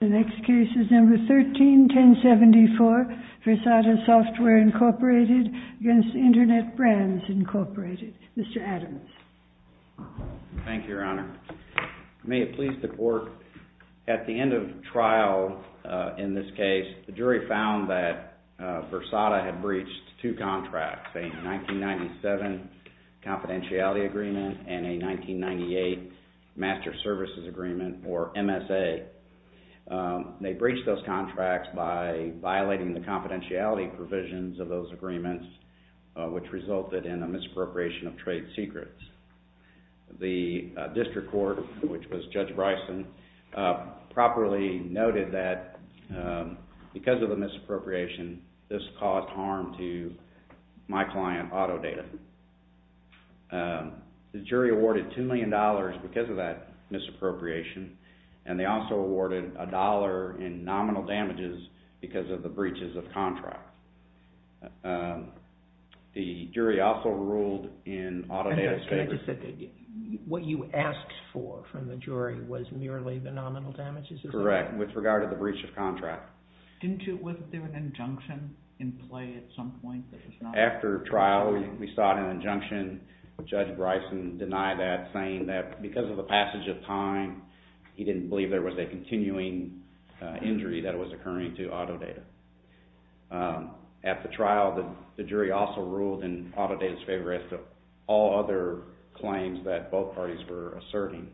The next case is number 13-1074, Versata Software, Inc. v. Internet Brands, Inc. Mr. Adams. Thank you, Your Honor. May it please the Court, at the end of trial in this case, the jury found that Versata had breached two contracts, a 1997 confidentiality agreement and a 1998 master services agreement, or MSA. They breached those contracts by violating the confidentiality provisions of those agreements, which resulted in a misappropriation of trade secrets. The district court, which was Judge Bryson, properly noted that because of the misappropriation, this caused harm to my client, Autodata. The jury awarded $2 million because of that misappropriation, and they also awarded a dollar in nominal damages because of the breaches of contract. The jury also ruled in Autodata's favor. What you asked for from the jury was merely the nominal damages, is that right? Correct, with regard to the breach of contract. Wasn't there an injunction in play at some point? After trial, we sought an injunction. Judge Bryson denied that, saying that because of the passage of time, he didn't believe there was a continuing injury that was occurring to Autodata. At the trial, the jury also ruled in Autodata's favor as to all other claims that both parties were asserting.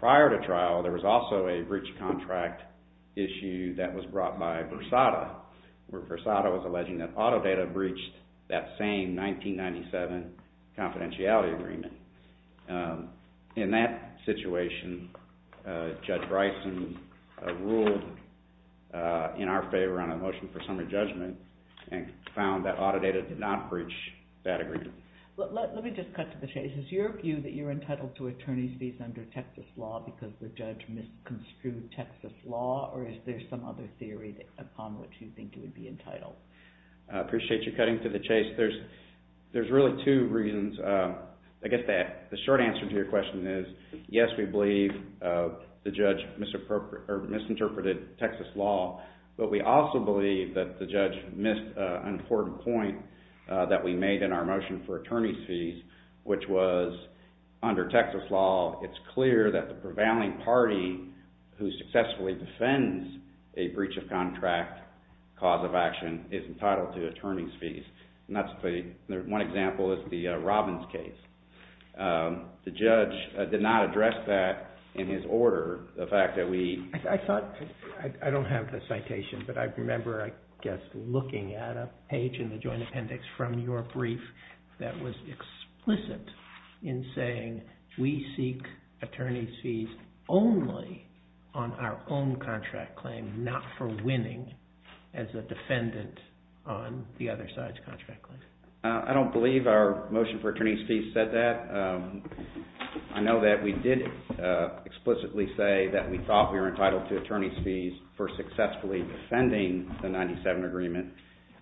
Prior to trial, there was also a breach of contract issue that was brought by Versata, where Versata was alleging that Autodata breached that same 1997 confidentiality agreement. In that situation, Judge Bryson ruled in our favor on a motion for summary judgment and found that Autodata did not breach that agreement. Let me just cut to the chase. Is your view that you're entitled to attorney's fees under Texas law because the judge misconstrued Texas law? Or is there some other theory upon which you think you would be entitled? I appreciate you cutting to the chase. There's really two reasons. I guess the short answer to your question is, yes, we believe the judge misinterpreted Texas law, but we also believe that the judge missed an important point that we made in our motion for attorney's fees, which was under Texas law, it's clear that the prevailing party who successfully defends a breach of contract cause of action is entitled to attorney's fees. And that's the one example is the Robbins case. The judge did not address that in his order, the fact that we... I thought... I don't have the citation, but I remember, I guess, looking at a page in the joint appendix from your brief that was explicit in saying, we seek attorney's fees only on our own contract claim, not for winning as a defendant on the other side's contract claim. I don't believe our motion for attorney's fees said that. I know that we did explicitly say that we thought we were entitled to attorney's fees for successfully defending the 97 agreement,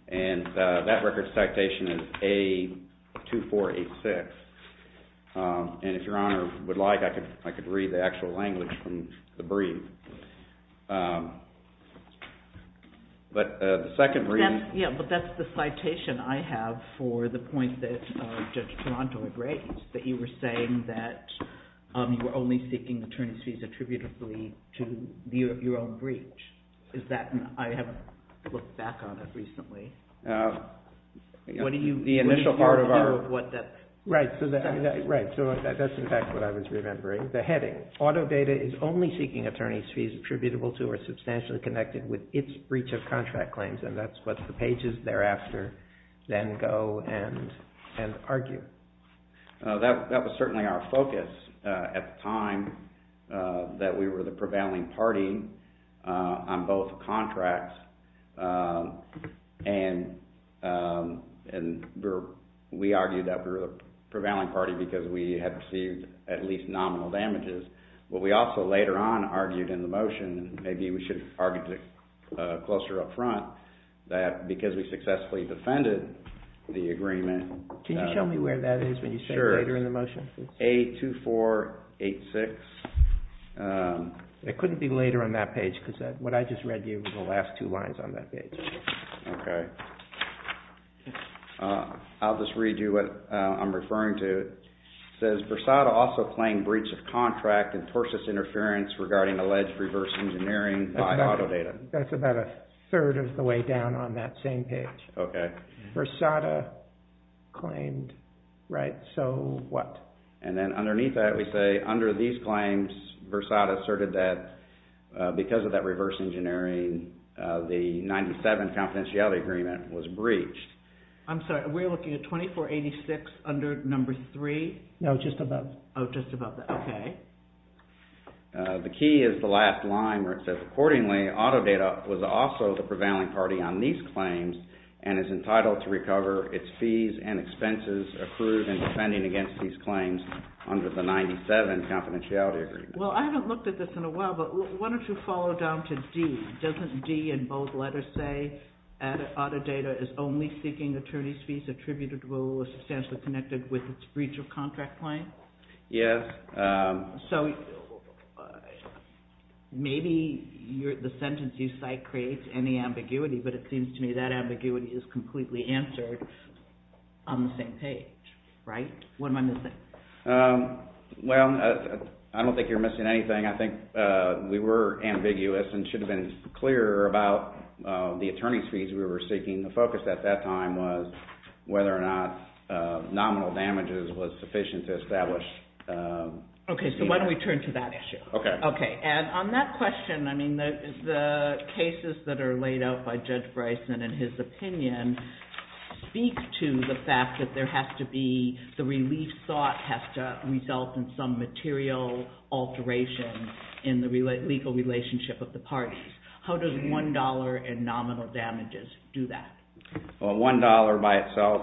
and that record citation is A2486. And if Your Honor would like, I could read the actual language from the brief. But the second brief... Yeah, but that's the citation I have for the point that Judge Taranto had raised, that you were saying that you were only seeking attorney's fees attributably to your own breach. Is that... I haven't looked back on it recently. What do you... The initial part of our... What did you hear of what that... Right. So that's, in fact, what I was remembering. The heading, auto data is only seeking attorney's fees attributable to or substantially connected with its breach of contract claims, and that's what the pages thereafter then go and argue. That was certainly our focus at the time that we were the prevailing party on both contracts. And we argued that we were the prevailing party because we had received at least nominal damages. But we also later on argued in the motion, and maybe we should argue it closer up front, that because we successfully defended the agreement... Can you show me where that is when you say later in the motion? Sure. It's A2486. It couldn't be later on that page because what I just read you were the last two lines on that page. Okay. I'll just read you what I'm referring to. It says, Versada also claimed breach of contract and tortious interference regarding alleged reverse engineering by auto data. That's about a third of the way down on that same page. Okay. Versada claimed... Right. So what? And then underneath that we say, under these claims, Versada asserted that because of that reverse engineering, the 97 confidentiality agreement was breached. I'm sorry. We're looking at 2486 under number three? No, just above. Oh, just above that. Okay. The key is the last line where it says, accordingly, auto data was also the prevailing party on these claims and is entitled to recover its fees and expenses accrued in defending against these claims under the 97 confidentiality agreement. Well, I haven't looked at this in a while, but why don't you follow down to D? Doesn't D in both letters say, auto data is only seeking attorney's fees attributed to a law substantially connected with its breach of contract claim? Yes. So maybe the sentence you cite creates any ambiguity, but it seems to me that ambiguity is completely answered on the same page, right? What am I missing? Well, I don't think you're missing anything. I think we were ambiguous and should have been clearer about the attorney's fees we were seeking. The focus at that time was whether or not nominal damages was sufficient to establish Okay. So why don't we turn to that issue? Okay. Okay. And on that question, the cases that are laid out by Judge Bryson and his opinion speak to the fact that the relief thought has to result in some material alteration in the legal relationship of the parties. How does $1 in nominal damages do that? Well, $1 by itself,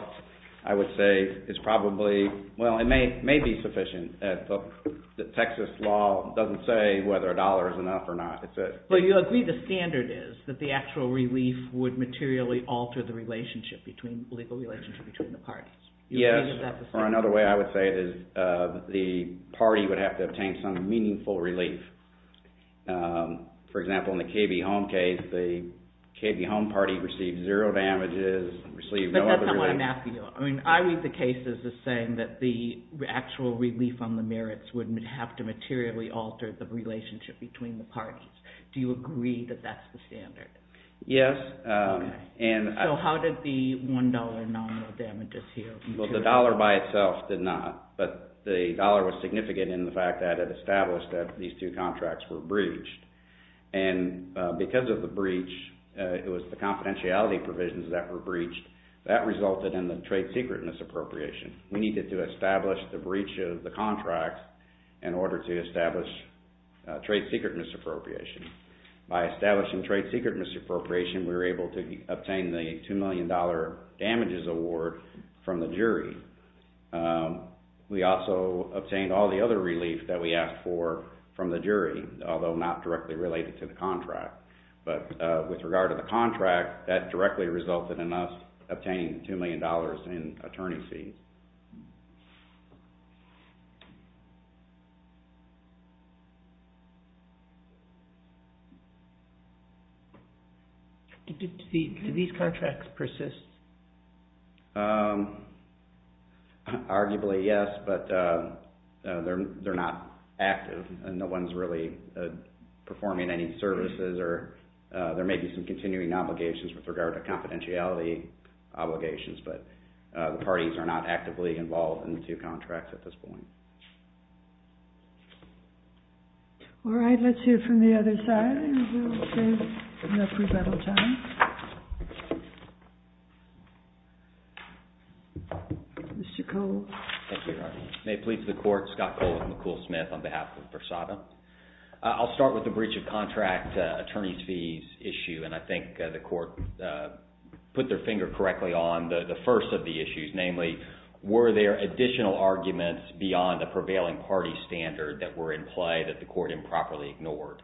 I would say, is probably, well, it may be sufficient. The Texas law doesn't say whether a dollar is enough or not. But you agree the standard is that the actual relief would materially alter the relationship between, legal relationship between the parties. Yes. Or another way I would say it is the party would have to obtain some meaningful relief. For example, in the KB Home case, the KB Home party received zero damages, received no other relief. But that's not what I'm asking you. I mean, I read the cases as saying that the actual relief on the merits would have to materially alter the relationship between the parties. Do you agree that that's the standard? Yes. Okay. So how did the $1 in nominal damages heal? Well, the dollar by itself did not. But the dollar was significant in the fact that it established that these two contracts were breached. And because of the breach, it was the confidentiality provisions that were breached, that resulted in the trade secret misappropriation. We needed to establish the breach of the contract in order to establish trade secret misappropriation. By establishing trade secret misappropriation, we were able to obtain the $2 million damages award from the jury. We also obtained all the other relief that we asked for from the jury, although not directly related to the contract. But with regard to the contract, that directly resulted in us obtaining $2 million in attorney fees. Do these contracts persist? Arguably, yes. But they're not active. No one's really performing any services. There may be some continuing obligations with regard to confidentiality obligations. But the parties are not actively involved in the two contracts at this point. All right. Let's hear from the other side. And we'll save enough rebuttal time. Mr. Cole. Thank you, Your Honor. May it please the court, Scott Cole with McCool Smith on behalf of Versada. I'll start with the breach of contract attorney's fees issue. And I think the court put their finger correctly on the first of the issues, namely, were there additional arguments beyond the prevailing party standard that were in play that the court improperly ignored?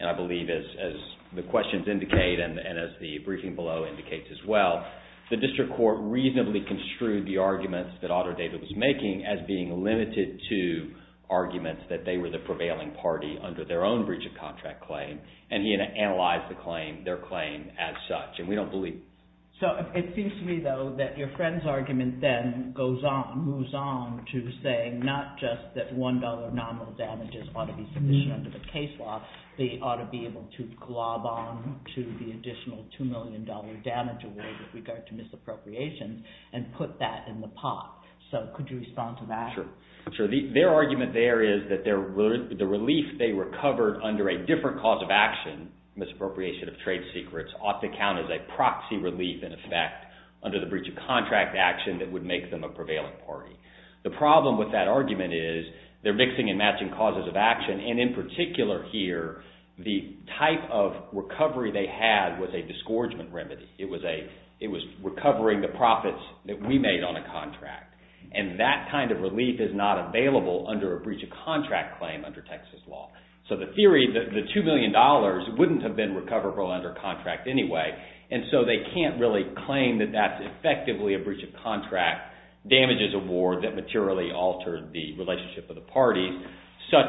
And I believe, as the questions indicate and as the briefing below indicates as well, the making as being limited to arguments that they were the prevailing party under their own breach of contract claim. And he analyzed the claim, their claim, as such. And we don't believe. So it seems to me, though, that your friend's argument then goes on, moves on to say not just that $1 nominal damages ought to be submission under the case law. They ought to be able to glob on to the additional $2 million damage award with regard to So could you respond to that? Sure. Their argument there is that the relief they recovered under a different cause of action, misappropriation of trade secrets, ought to count as a proxy relief in effect under the breach of contract action that would make them a prevailing party. The problem with that argument is they're mixing and matching causes of action. And in particular here, the type of recovery they had was a disgorgement remedy. It was recovering the profits that we made on a contract. And that kind of relief is not available under a breach of contract claim under Texas law. So the theory, the $2 million wouldn't have been recoverable under contract anyway. And so they can't really claim that that's effectively a breach of contract damages award that materially altered the relationship of the parties, such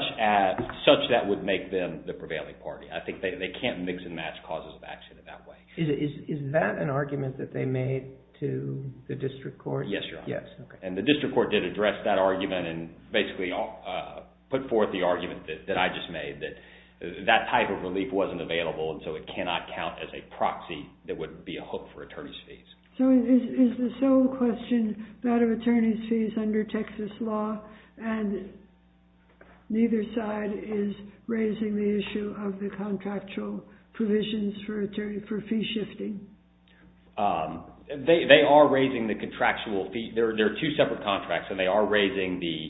that would make them the prevailing party. I think they can't mix and match causes of action in that way. Is that an argument that they made to the district court? Yes, Your Honor. And the district court did address that argument and basically put forth the argument that I just made, that that type of relief wasn't available and so it cannot count as a proxy that would be a hook for attorney's fees. So is the sole question that of attorney's fees under Texas law and neither side is raising the issue of the contractual provisions for fee shifting? They are raising the contractual fee. There are two separate contracts and they are raising the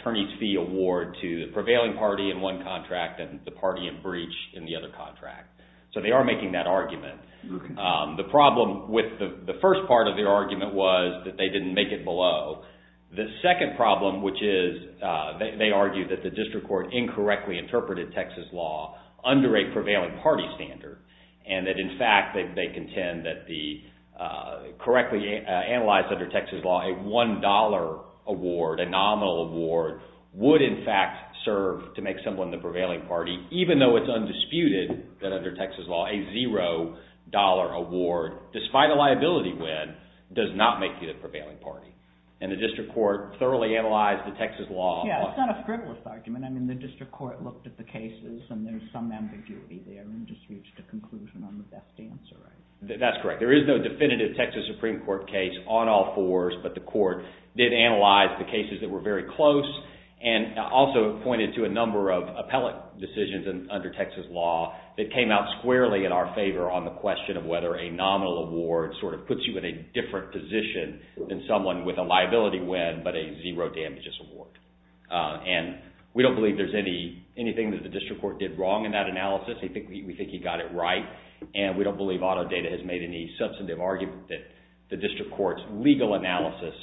attorney's fee award to the prevailing party in one contract and the party in breach in the other contract. So they are making that argument. The problem with the first part of the argument was that they didn't make it below. The second problem, which is they argue that the district court incorrectly interpreted Texas law under a prevailing party standard and that in fact they contend that the correctly analyzed under Texas law, a $1 award, a nominal award, would in fact serve to make someone the prevailing party even though it's undisputed that under Texas law a $0 award, despite a liability win, does not make you the prevailing party. And the district court thoroughly analyzed the Texas law. Yeah, it's not a frivolous argument. I mean the district court looked at the cases and there's some ambiguity there and just reached a conclusion on the best answer, right? That's correct. There is no definitive Texas Supreme Court case on all fours, but the court did analyze the cases that were very close and also pointed to a number of appellate decisions under Texas law that came out squarely in our favor on the question of whether a nominal award sort of puts you in a different position than someone with a liability win but a $0 damages award. And we don't believe there's anything that the district court did wrong in that analysis. We think he got it right and we don't believe auto data has made any substantive argument that the district court's legal analysis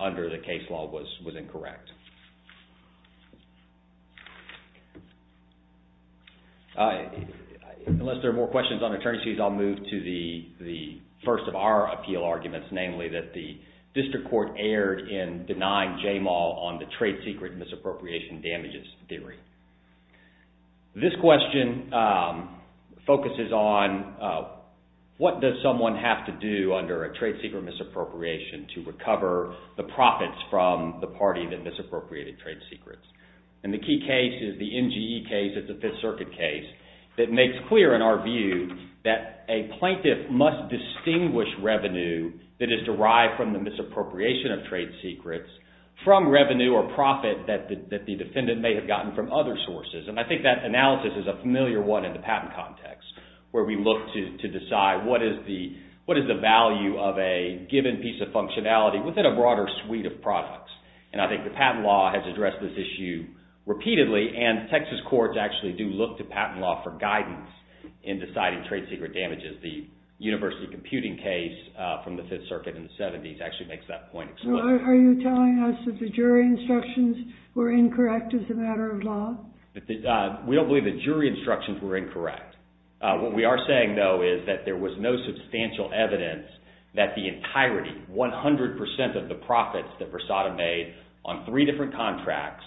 under the case law was incorrect. Unless there are more questions on attorneys fees, I'll move to the first of our appeal arguments, namely that the district court erred in denying Jamal on the trade secret misappropriation damages theory. This question focuses on what does someone have to do under a trade secret misappropriation to recover the profits from the party that misappropriated trade secrets. And the key case is the NGE case. It's a Fifth Circuit case that makes clear in our view that a plaintiff must distinguish revenue that is derived from the misappropriation of trade secrets from revenue or profit that the defendant may have gotten from other sources. And I think that analysis is a familiar one in the patent context where we look to decide what is the value of a given piece of functionality within a broader suite of products. And I think the patent law has addressed this issue repeatedly and Texas courts actually do look to patent law for guidance in deciding trade secret damages. The university computing case from the Fifth Circuit in the 70s actually makes that point. Are you telling us that the jury instructions were incorrect as a matter of law? We don't believe the jury instructions were incorrect. What we are saying though is that there was no substantial evidence that the entirety, 100% of the profits that Versada made on three different contracts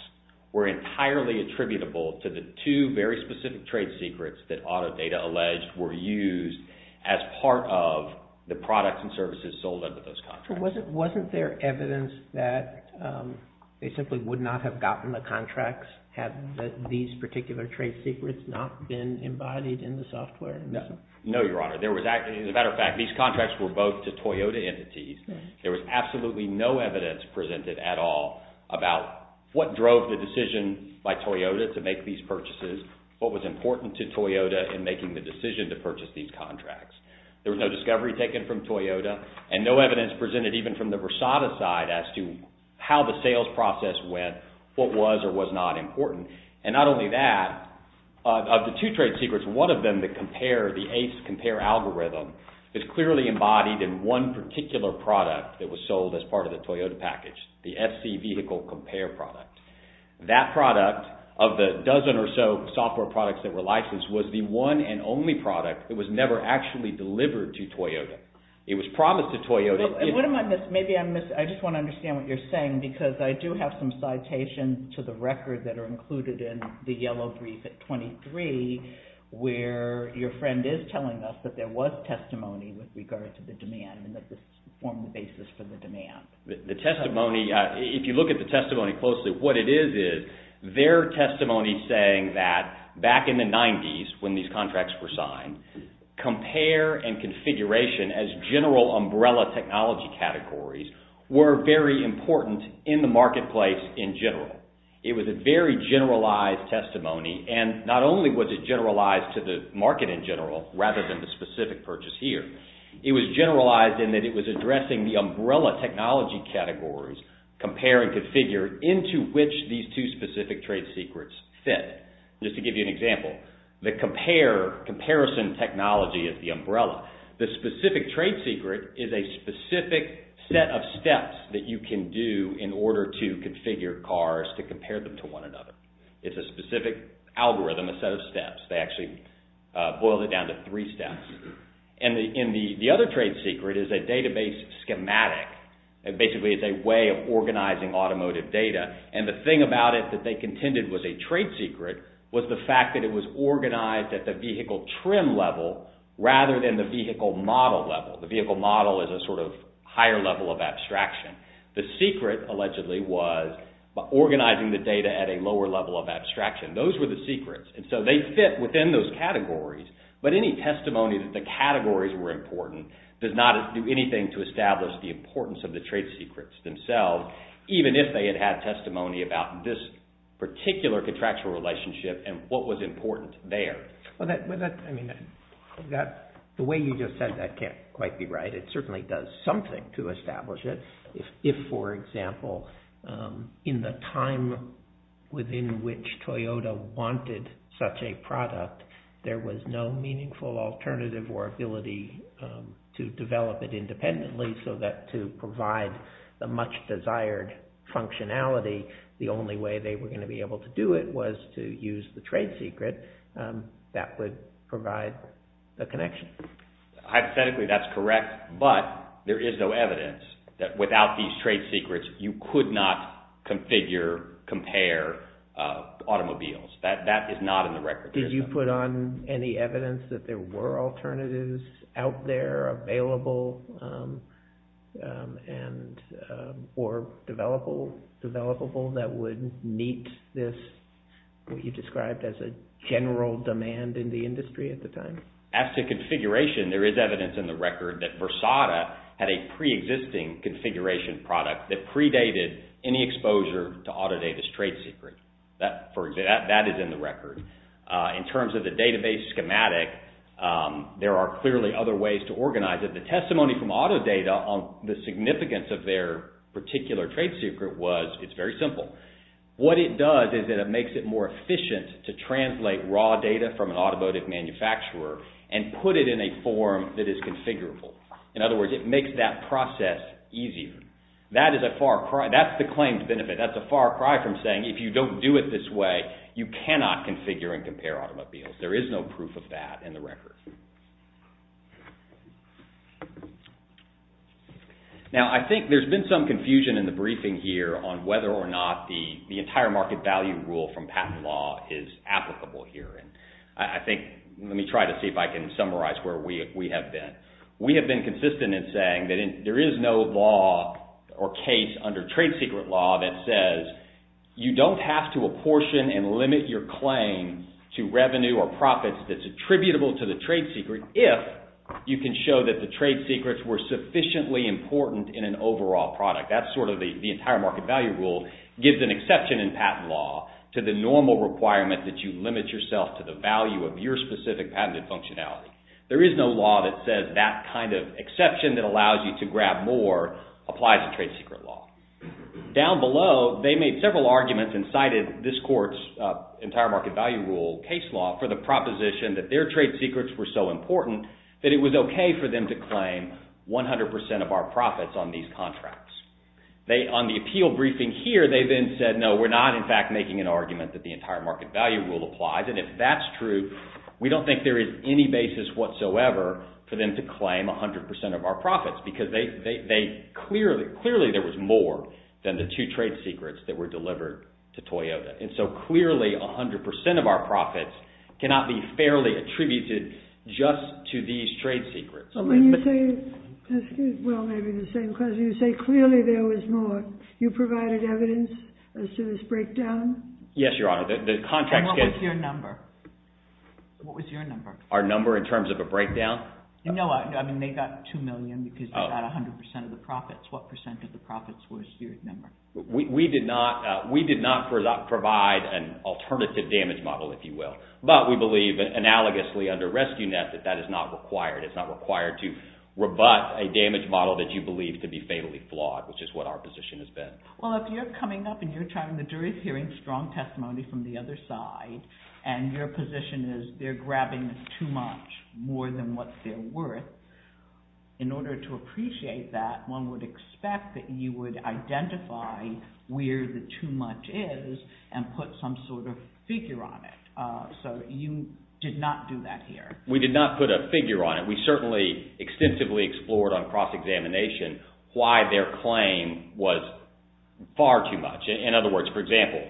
were entirely attributable to the two very specific trade secrets that auto data alleged were used as part of the products and services sold under those contracts. Wasn't there evidence that they simply would not have gotten the contracts had these particular trade secrets not been embodied in the software? No, Your Honor. As a matter of fact, these contracts were both to Toyota entities. There was absolutely no evidence presented at all about what drove the decision by Toyota to make these purchases, what was important to Toyota in making the decision to purchase these contracts. There was no discovery taken from Toyota and no evidence presented even from the Versada side as to how the sales process went, what was or was not important. And not only that, of the two trade secrets, one of them, the compare, the ACE compare algorithm, is clearly embodied in one particular product that was sold as part of the Toyota package, the FC vehicle compare product. That product of the dozen or so software products that were licensed was the one and only product that was never actually delivered to Toyota. It was promised to Toyota. What am I missing? Maybe I just want to understand what you're saying because I do have some citations to the record that are included in the yellow brief at 23 where your friend is telling us that there was testimony with regard to the demand and that this formed the basis for the demand. The testimony, if you look at the testimony closely, what it is is their testimony saying that back in the 90s when these contracts were signed, compare and configuration as general umbrella technology categories were very important in the marketplace in general. It was a very generalized testimony and not only was it generalized to the market in general rather than the specific purchase here. It was generalized in that it was addressing the umbrella technology categories, compare and configure, into which these two specific trade secrets fit. Just to give you an example, the comparison technology of the umbrella, the specific trade secret is a specific set of steps that you can do in order to configure cars to compare them to one another. It's a specific algorithm, a set of steps. They actually boiled it down to three steps. The other trade secret is a database schematic. It basically is a way of organizing automotive data. The thing about it that they contended was a trade secret was the fact that it was organized at the vehicle trim level rather than the vehicle model level. The vehicle model is a sort of higher level of abstraction. Those were the secrets. They fit within those categories, but any testimony that the categories were important does not do anything to establish the importance of the trade secrets themselves, even if they had had testimony about this particular contractual relationship and what was important there. The way you just said that can't quite be right. It certainly does something to establish it. If, for example, in the time within which Toyota wanted such a product, there was no meaningful alternative or ability to develop it independently so that to provide the much desired functionality, the only way they were going to be able to do it was to use the trade secret, that would provide the connection. Hypothetically, that's correct, but there is no evidence that without these trade secrets you could not configure, compare automobiles. That is not in the record. Did you put on any evidence that there were alternatives out there available or developable that would meet this, what you described as a general demand in the industry at the time? As to configuration, there is evidence in the record that Versada had a pre-existing configuration product that predated any exposure to Autodata's trade secret. That is in the record. In terms of the database schematic, there are clearly other ways to organize it. The testimony from Autodata on the significance of their particular trade secret was it's very simple. What it does is it makes it more efficient to translate raw data from an automotive manufacturer and put it in a form that is configurable. In other words, it makes that process easier. That's the claimed benefit. That's a far cry from saying if you don't do it this way, you cannot configure and compare automobiles. There is no proof of that in the record. Now, I think there's been some confusion in the briefing here on whether or not the entire market value rule from patent law is applicable here. Let me try to see if I can summarize where we have been. We have been consistent in saying that there is no law or case under trade secret law that says you don't have to apportion and limit your claim to revenue or profits that's attributable to the trade secret if you can show that the trade secrets were sufficiently important in an overall product. That's sort of the entire market value rule gives an exception in patent law to the normal requirement that you limit yourself to the value of your specific patented functionality. There is no law that says that kind of exception that allows you to grab more applies to trade secret law. Down below, they made several arguments and cited this court's entire market value rule case law for the proposition that their trade secrets were so important that it was okay for them to claim 100% of our profits on these contracts. On the appeal briefing here, they then said, no, we're not in fact making an argument that the entire market value rule applies and if that's true, we don't think there is any basis whatsoever for them to claim 100% of our profits because clearly there was more than the two trade secrets that were delivered to Toyota. Clearly, 100% of our profits cannot be fairly attributed just to these trade secrets. You say clearly there was more. You provided evidence as to this breakdown? Yes, Your Honor. What was your number? Our number in terms of a breakdown? No, they got $2 million because they got 100% of the profits. What percent of the profits was your number? We did not provide an alternative damage model, if you will, but we believe analogously under RescueNet that that is not required. It's not required to rebut a damage model that you believe to be fatally flawed, which is what our position has been. Well, if you're coming up and the jury is hearing strong testimony from the other side and your position is they're grabbing too much more than what they're worth, in order to appreciate that, one would expect that you would identify where the too much is and put some sort of figure on it. So you did not do that here. We did not put a figure on it. We certainly extensively explored on cross-examination why their claim was far too much. In other words, for example,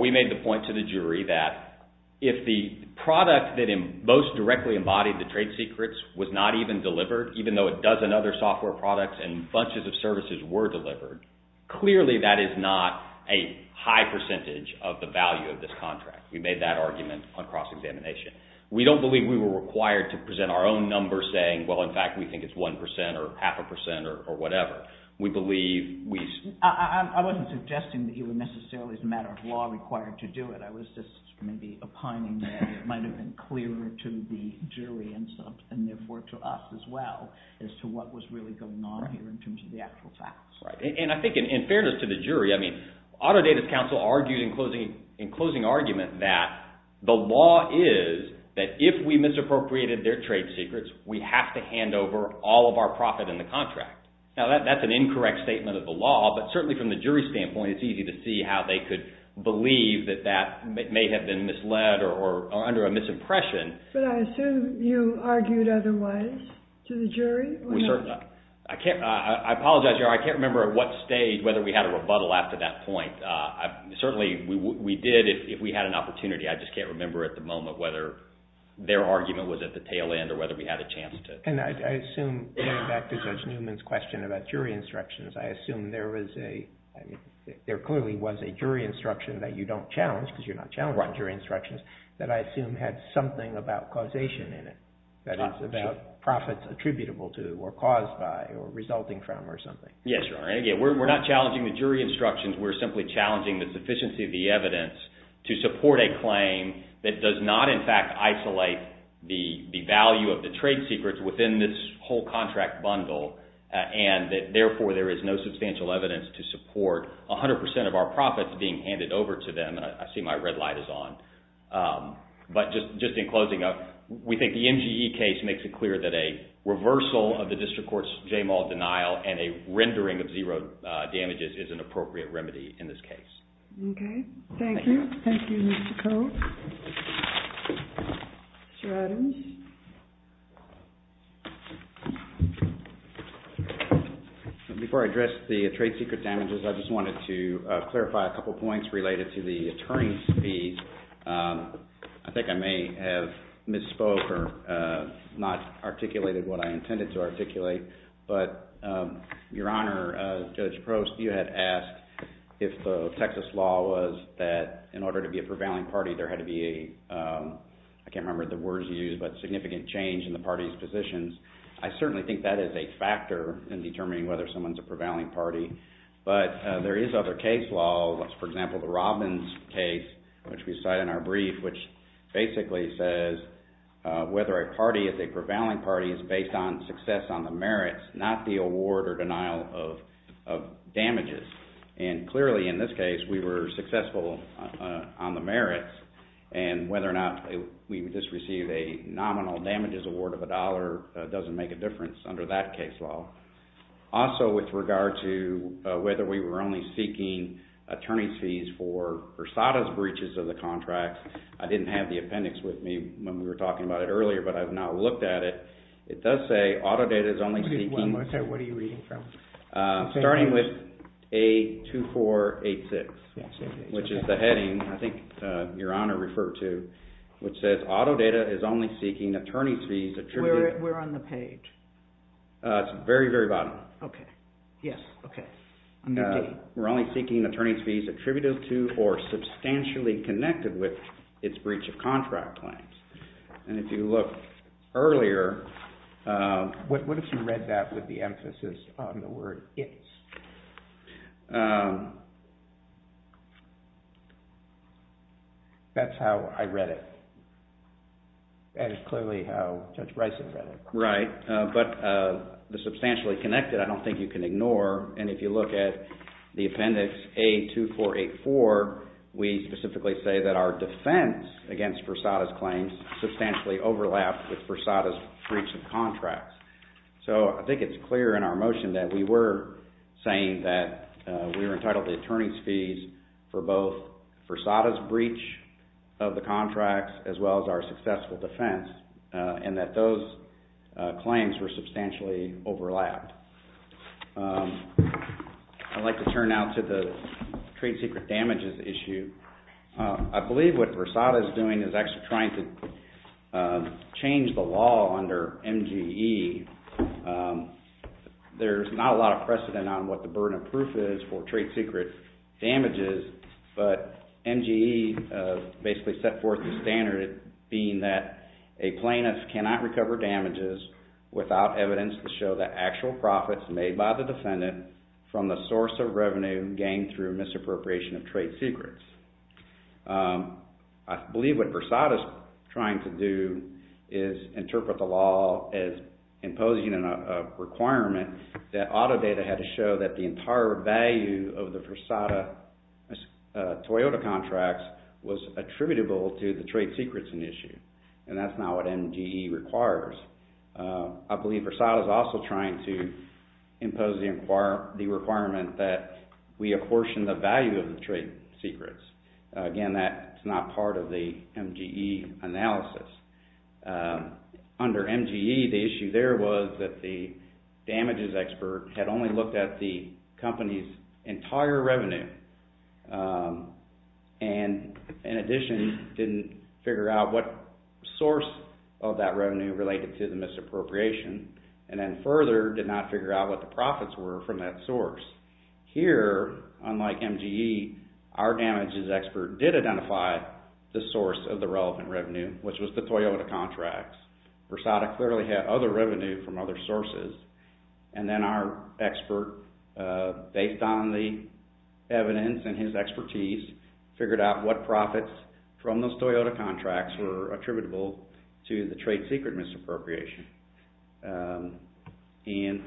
we made the point to the jury that if the product that most directly embodied the trade secrets was not even delivered, even though a dozen other software products and bunches of services were delivered, clearly that is not a high percentage of the value of this contract. We made that argument on cross-examination. We don't believe we were required to present our own number saying, well, in fact, we think it's one percent or half a percent or whatever. We believe we… I wasn't suggesting that you were necessarily as a matter of law required to do it. I was just maybe opining that it might have been clearer to the jury and therefore to us as well as to what was really going on here in terms of the actual facts. And I think in fairness to the jury, I mean, Autodata's counsel argued in closing argument that the law is that if we misappropriated their trade secrets, we have to hand over all of our profit in the contract. Now, that's an incorrect statement of the law, but certainly from the jury's standpoint, it's easy to see how they could believe that that may have been misled or under a misimpression. But I assume you argued otherwise to the jury? I apologize, Your Honor. I can't remember at what stage whether we had a rebuttal after that point. Certainly, we did if we had an opportunity. I just can't remember at the moment whether their argument was at the tail end or whether we had a chance to… And I assume, going back to Judge Newman's question about jury instructions, I assume there was a… There clearly was a jury instruction that you don't challenge because you're not challenging jury instructions that I assume had something about causation in it, that it's about profits attributable to or caused by or resulting from or something. Yes, Your Honor. Again, we're not challenging the jury instructions. We're simply challenging the sufficiency of the evidence to support a claim that does not, in fact, isolate the value of the trade secrets within this whole contract bundle and that, therefore, there is no substantial evidence to support 100% of our profits being handed over to them. I see my red light is on. But just in closing up, we think the MGE case makes it clear that a reversal of the district court's JMAL denial and a rendering of zero damages is an appropriate remedy in this case. Okay. Thank you. Thank you, Mr. Cope. Mr. Adams. Before I address the trade secret damages, I just wanted to clarify a couple points related to the attorney's fees. I think I may have misspoke or not articulated what I intended to articulate, but, Your Honor, Judge Prost, you had asked if the Texas law was that in order to be a prevailing party, there had to be a, I can't remember the words used, but significant change in the party's positions. I certainly think that is a factor in determining whether someone's a prevailing party. But there is other case law, for example, the Robbins case, which we cite in our brief, which basically says whether a party is a prevailing party is based on success on the merits, not the award or denial of damages. And clearly in this case, we were successful on the merits, and whether or not we just received a nominal damages award of a dollar doesn't make a difference under that case law. Also with regard to whether we were only seeking attorney's fees for Versada's breaches of the contract, I didn't have the appendix with me when we were talking about it earlier, but I've now looked at it. It does say auto data is only seeking... One more time, what are you reading from? Starting with A2486, which is the heading I think Your Honor referred to, which says auto data is only seeking attorney's fees attributed... We're on the page. It's very, very bottom. Yes, okay. We're only seeking attorney's fees attributed to or substantially connected with its breach of contract claims. And if you look earlier... What if you read that with the emphasis on the word it's? That's how I read it. That is clearly how Judge Rice had read it. Right, but the substantially connected I don't think you can ignore. And if you look at the appendix A2484, we specifically say that our defense against Versada's claims substantially overlapped with Versada's breach of contracts. So I think it's clear in our motion that we were saying that we were entitled to attorney's fees for both Versada's breach of the contracts as well as our successful defense and that those claims were substantially overlapped. I'd like to turn now to the trade secret damages issue. I believe what Versada's doing is actually trying to change the law under MGE. There's not a lot of precedent on what the burden of proof is for trade secret damages, but MGE basically set forth the standard being that a plaintiff cannot recover damages without evidence to show the actual profits made by the defendant from the source of revenue gained through misappropriation of trade secrets. I believe what Versada's trying to do is interpret the law as imposing a requirement that Autodata had to show that the entire value of the Versada Toyota contracts was attributable to the trade secrets in issue. And that's not what MGE requires. I believe Versada's also trying to impose the requirement that we apportion the value of the trade secrets. Again, that's not part of the MGE analysis. Under MGE, the issue there was that the damages expert had only looked at the company's entire revenue and in addition didn't figure out what source of that revenue related to the misappropriation and then further did not figure out what the profits were from that source. Here, unlike MGE, our damages expert did identify the source of the relevant revenue, which was the Toyota contracts. Versada clearly had other revenue from other sources and then our expert, based on the evidence and his expertise, figured out what profits from those Toyota contracts were attributable to the trade secret misappropriation. And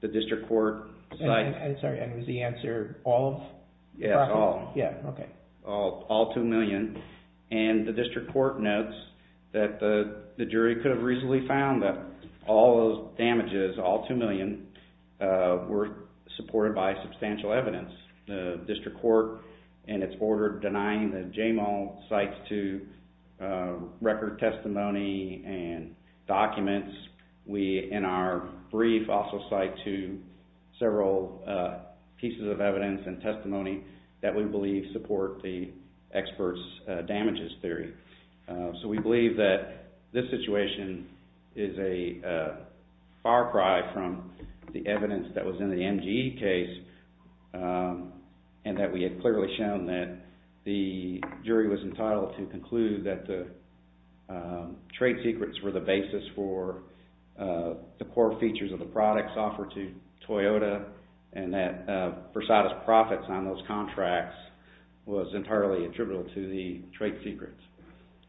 the district court... I'm sorry, was the answer all? Yes, all. Yeah, okay. All 2 million. And the district court notes that the jury could have reasonably found that all those damages, all 2 million, were supported by substantial evidence. The district court and its order denying the JMO sites to record testimony and documents. We, in our brief, also cite to several pieces of evidence and testimony that we believe support the experts' damages theory. So we believe that this situation is a far cry from the evidence that was in the MGE case and that we had clearly shown that the jury was entitled to conclude that the trade secrets were the basis for the core features of the products offered to Toyota and that Versada's profits on those contracts was entirely attributable to the trade secrets.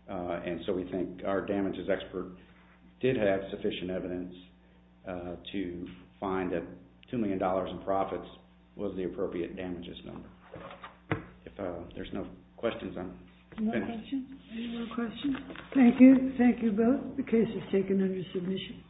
And so we think our damages expert did have sufficient evidence to find that $2 million in profits was the appropriate damages number. Any more questions? Thank you. Thank you both. The case is taken under submission.